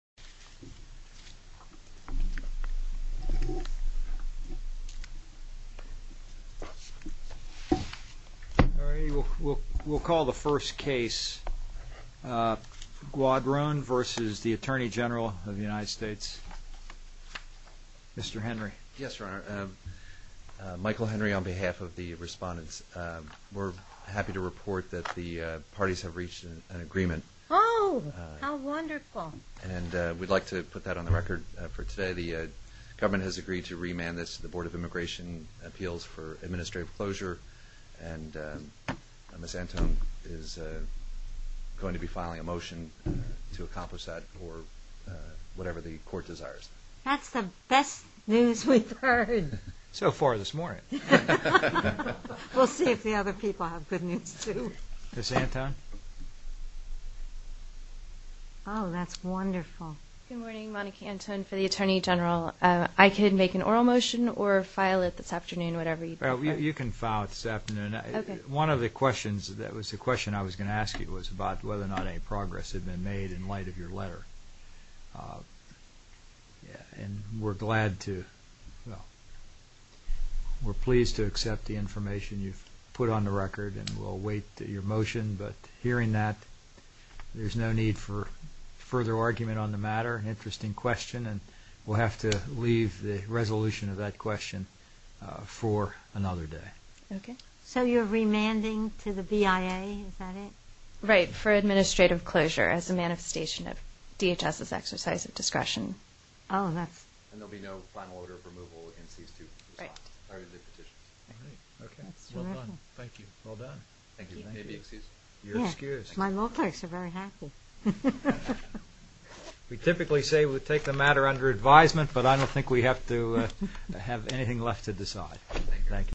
of the United States. Mr. Henry. Yes, Your Honor. Michael Henry, on behalf of the respondents, we're happy to report that the parties have reached an agreement. Oh, how wonderful. And we'd like to put that on the record for today. The government has agreed to remand this to the Board of Immigration Appeals for Administrative Closure. And Ms. Antone is going to be filing a motion to accomplish that for whatever the Court desires. That's the best news we've heard. So far this morning. We'll see if the other people have good news too. Ms. Antone. Oh, that's wonderful. Good morning, Monica Antone for the Attorney General. I could make an oral motion or file it this afternoon, whatever you prefer. You can file it this afternoon. One of the questions, that was the question I was going to ask you, was about whether or not any progress had been made in light of your letter. And we're glad to, well, we're pleased to accept the information you've put on the record and we'll await your motion. But hearing that, there's no need for further argument on the matter. An interesting question and we'll have to leave the resolution of that question for another day. Okay. So you're remanding to the BIA, is that it? Right, for Administrative Closure as a manifestation of DHS's exercise of discretion. Oh, and that's... And there'll be no final order of removal against these two respondents. Right. Okay. Well done. Thank you. Well done. Thank you. May I be excused? You're excused. My law clerks are very happy. We typically say we'll take the matter under advisement, but I don't think we have to have anything left to decide. Thank you.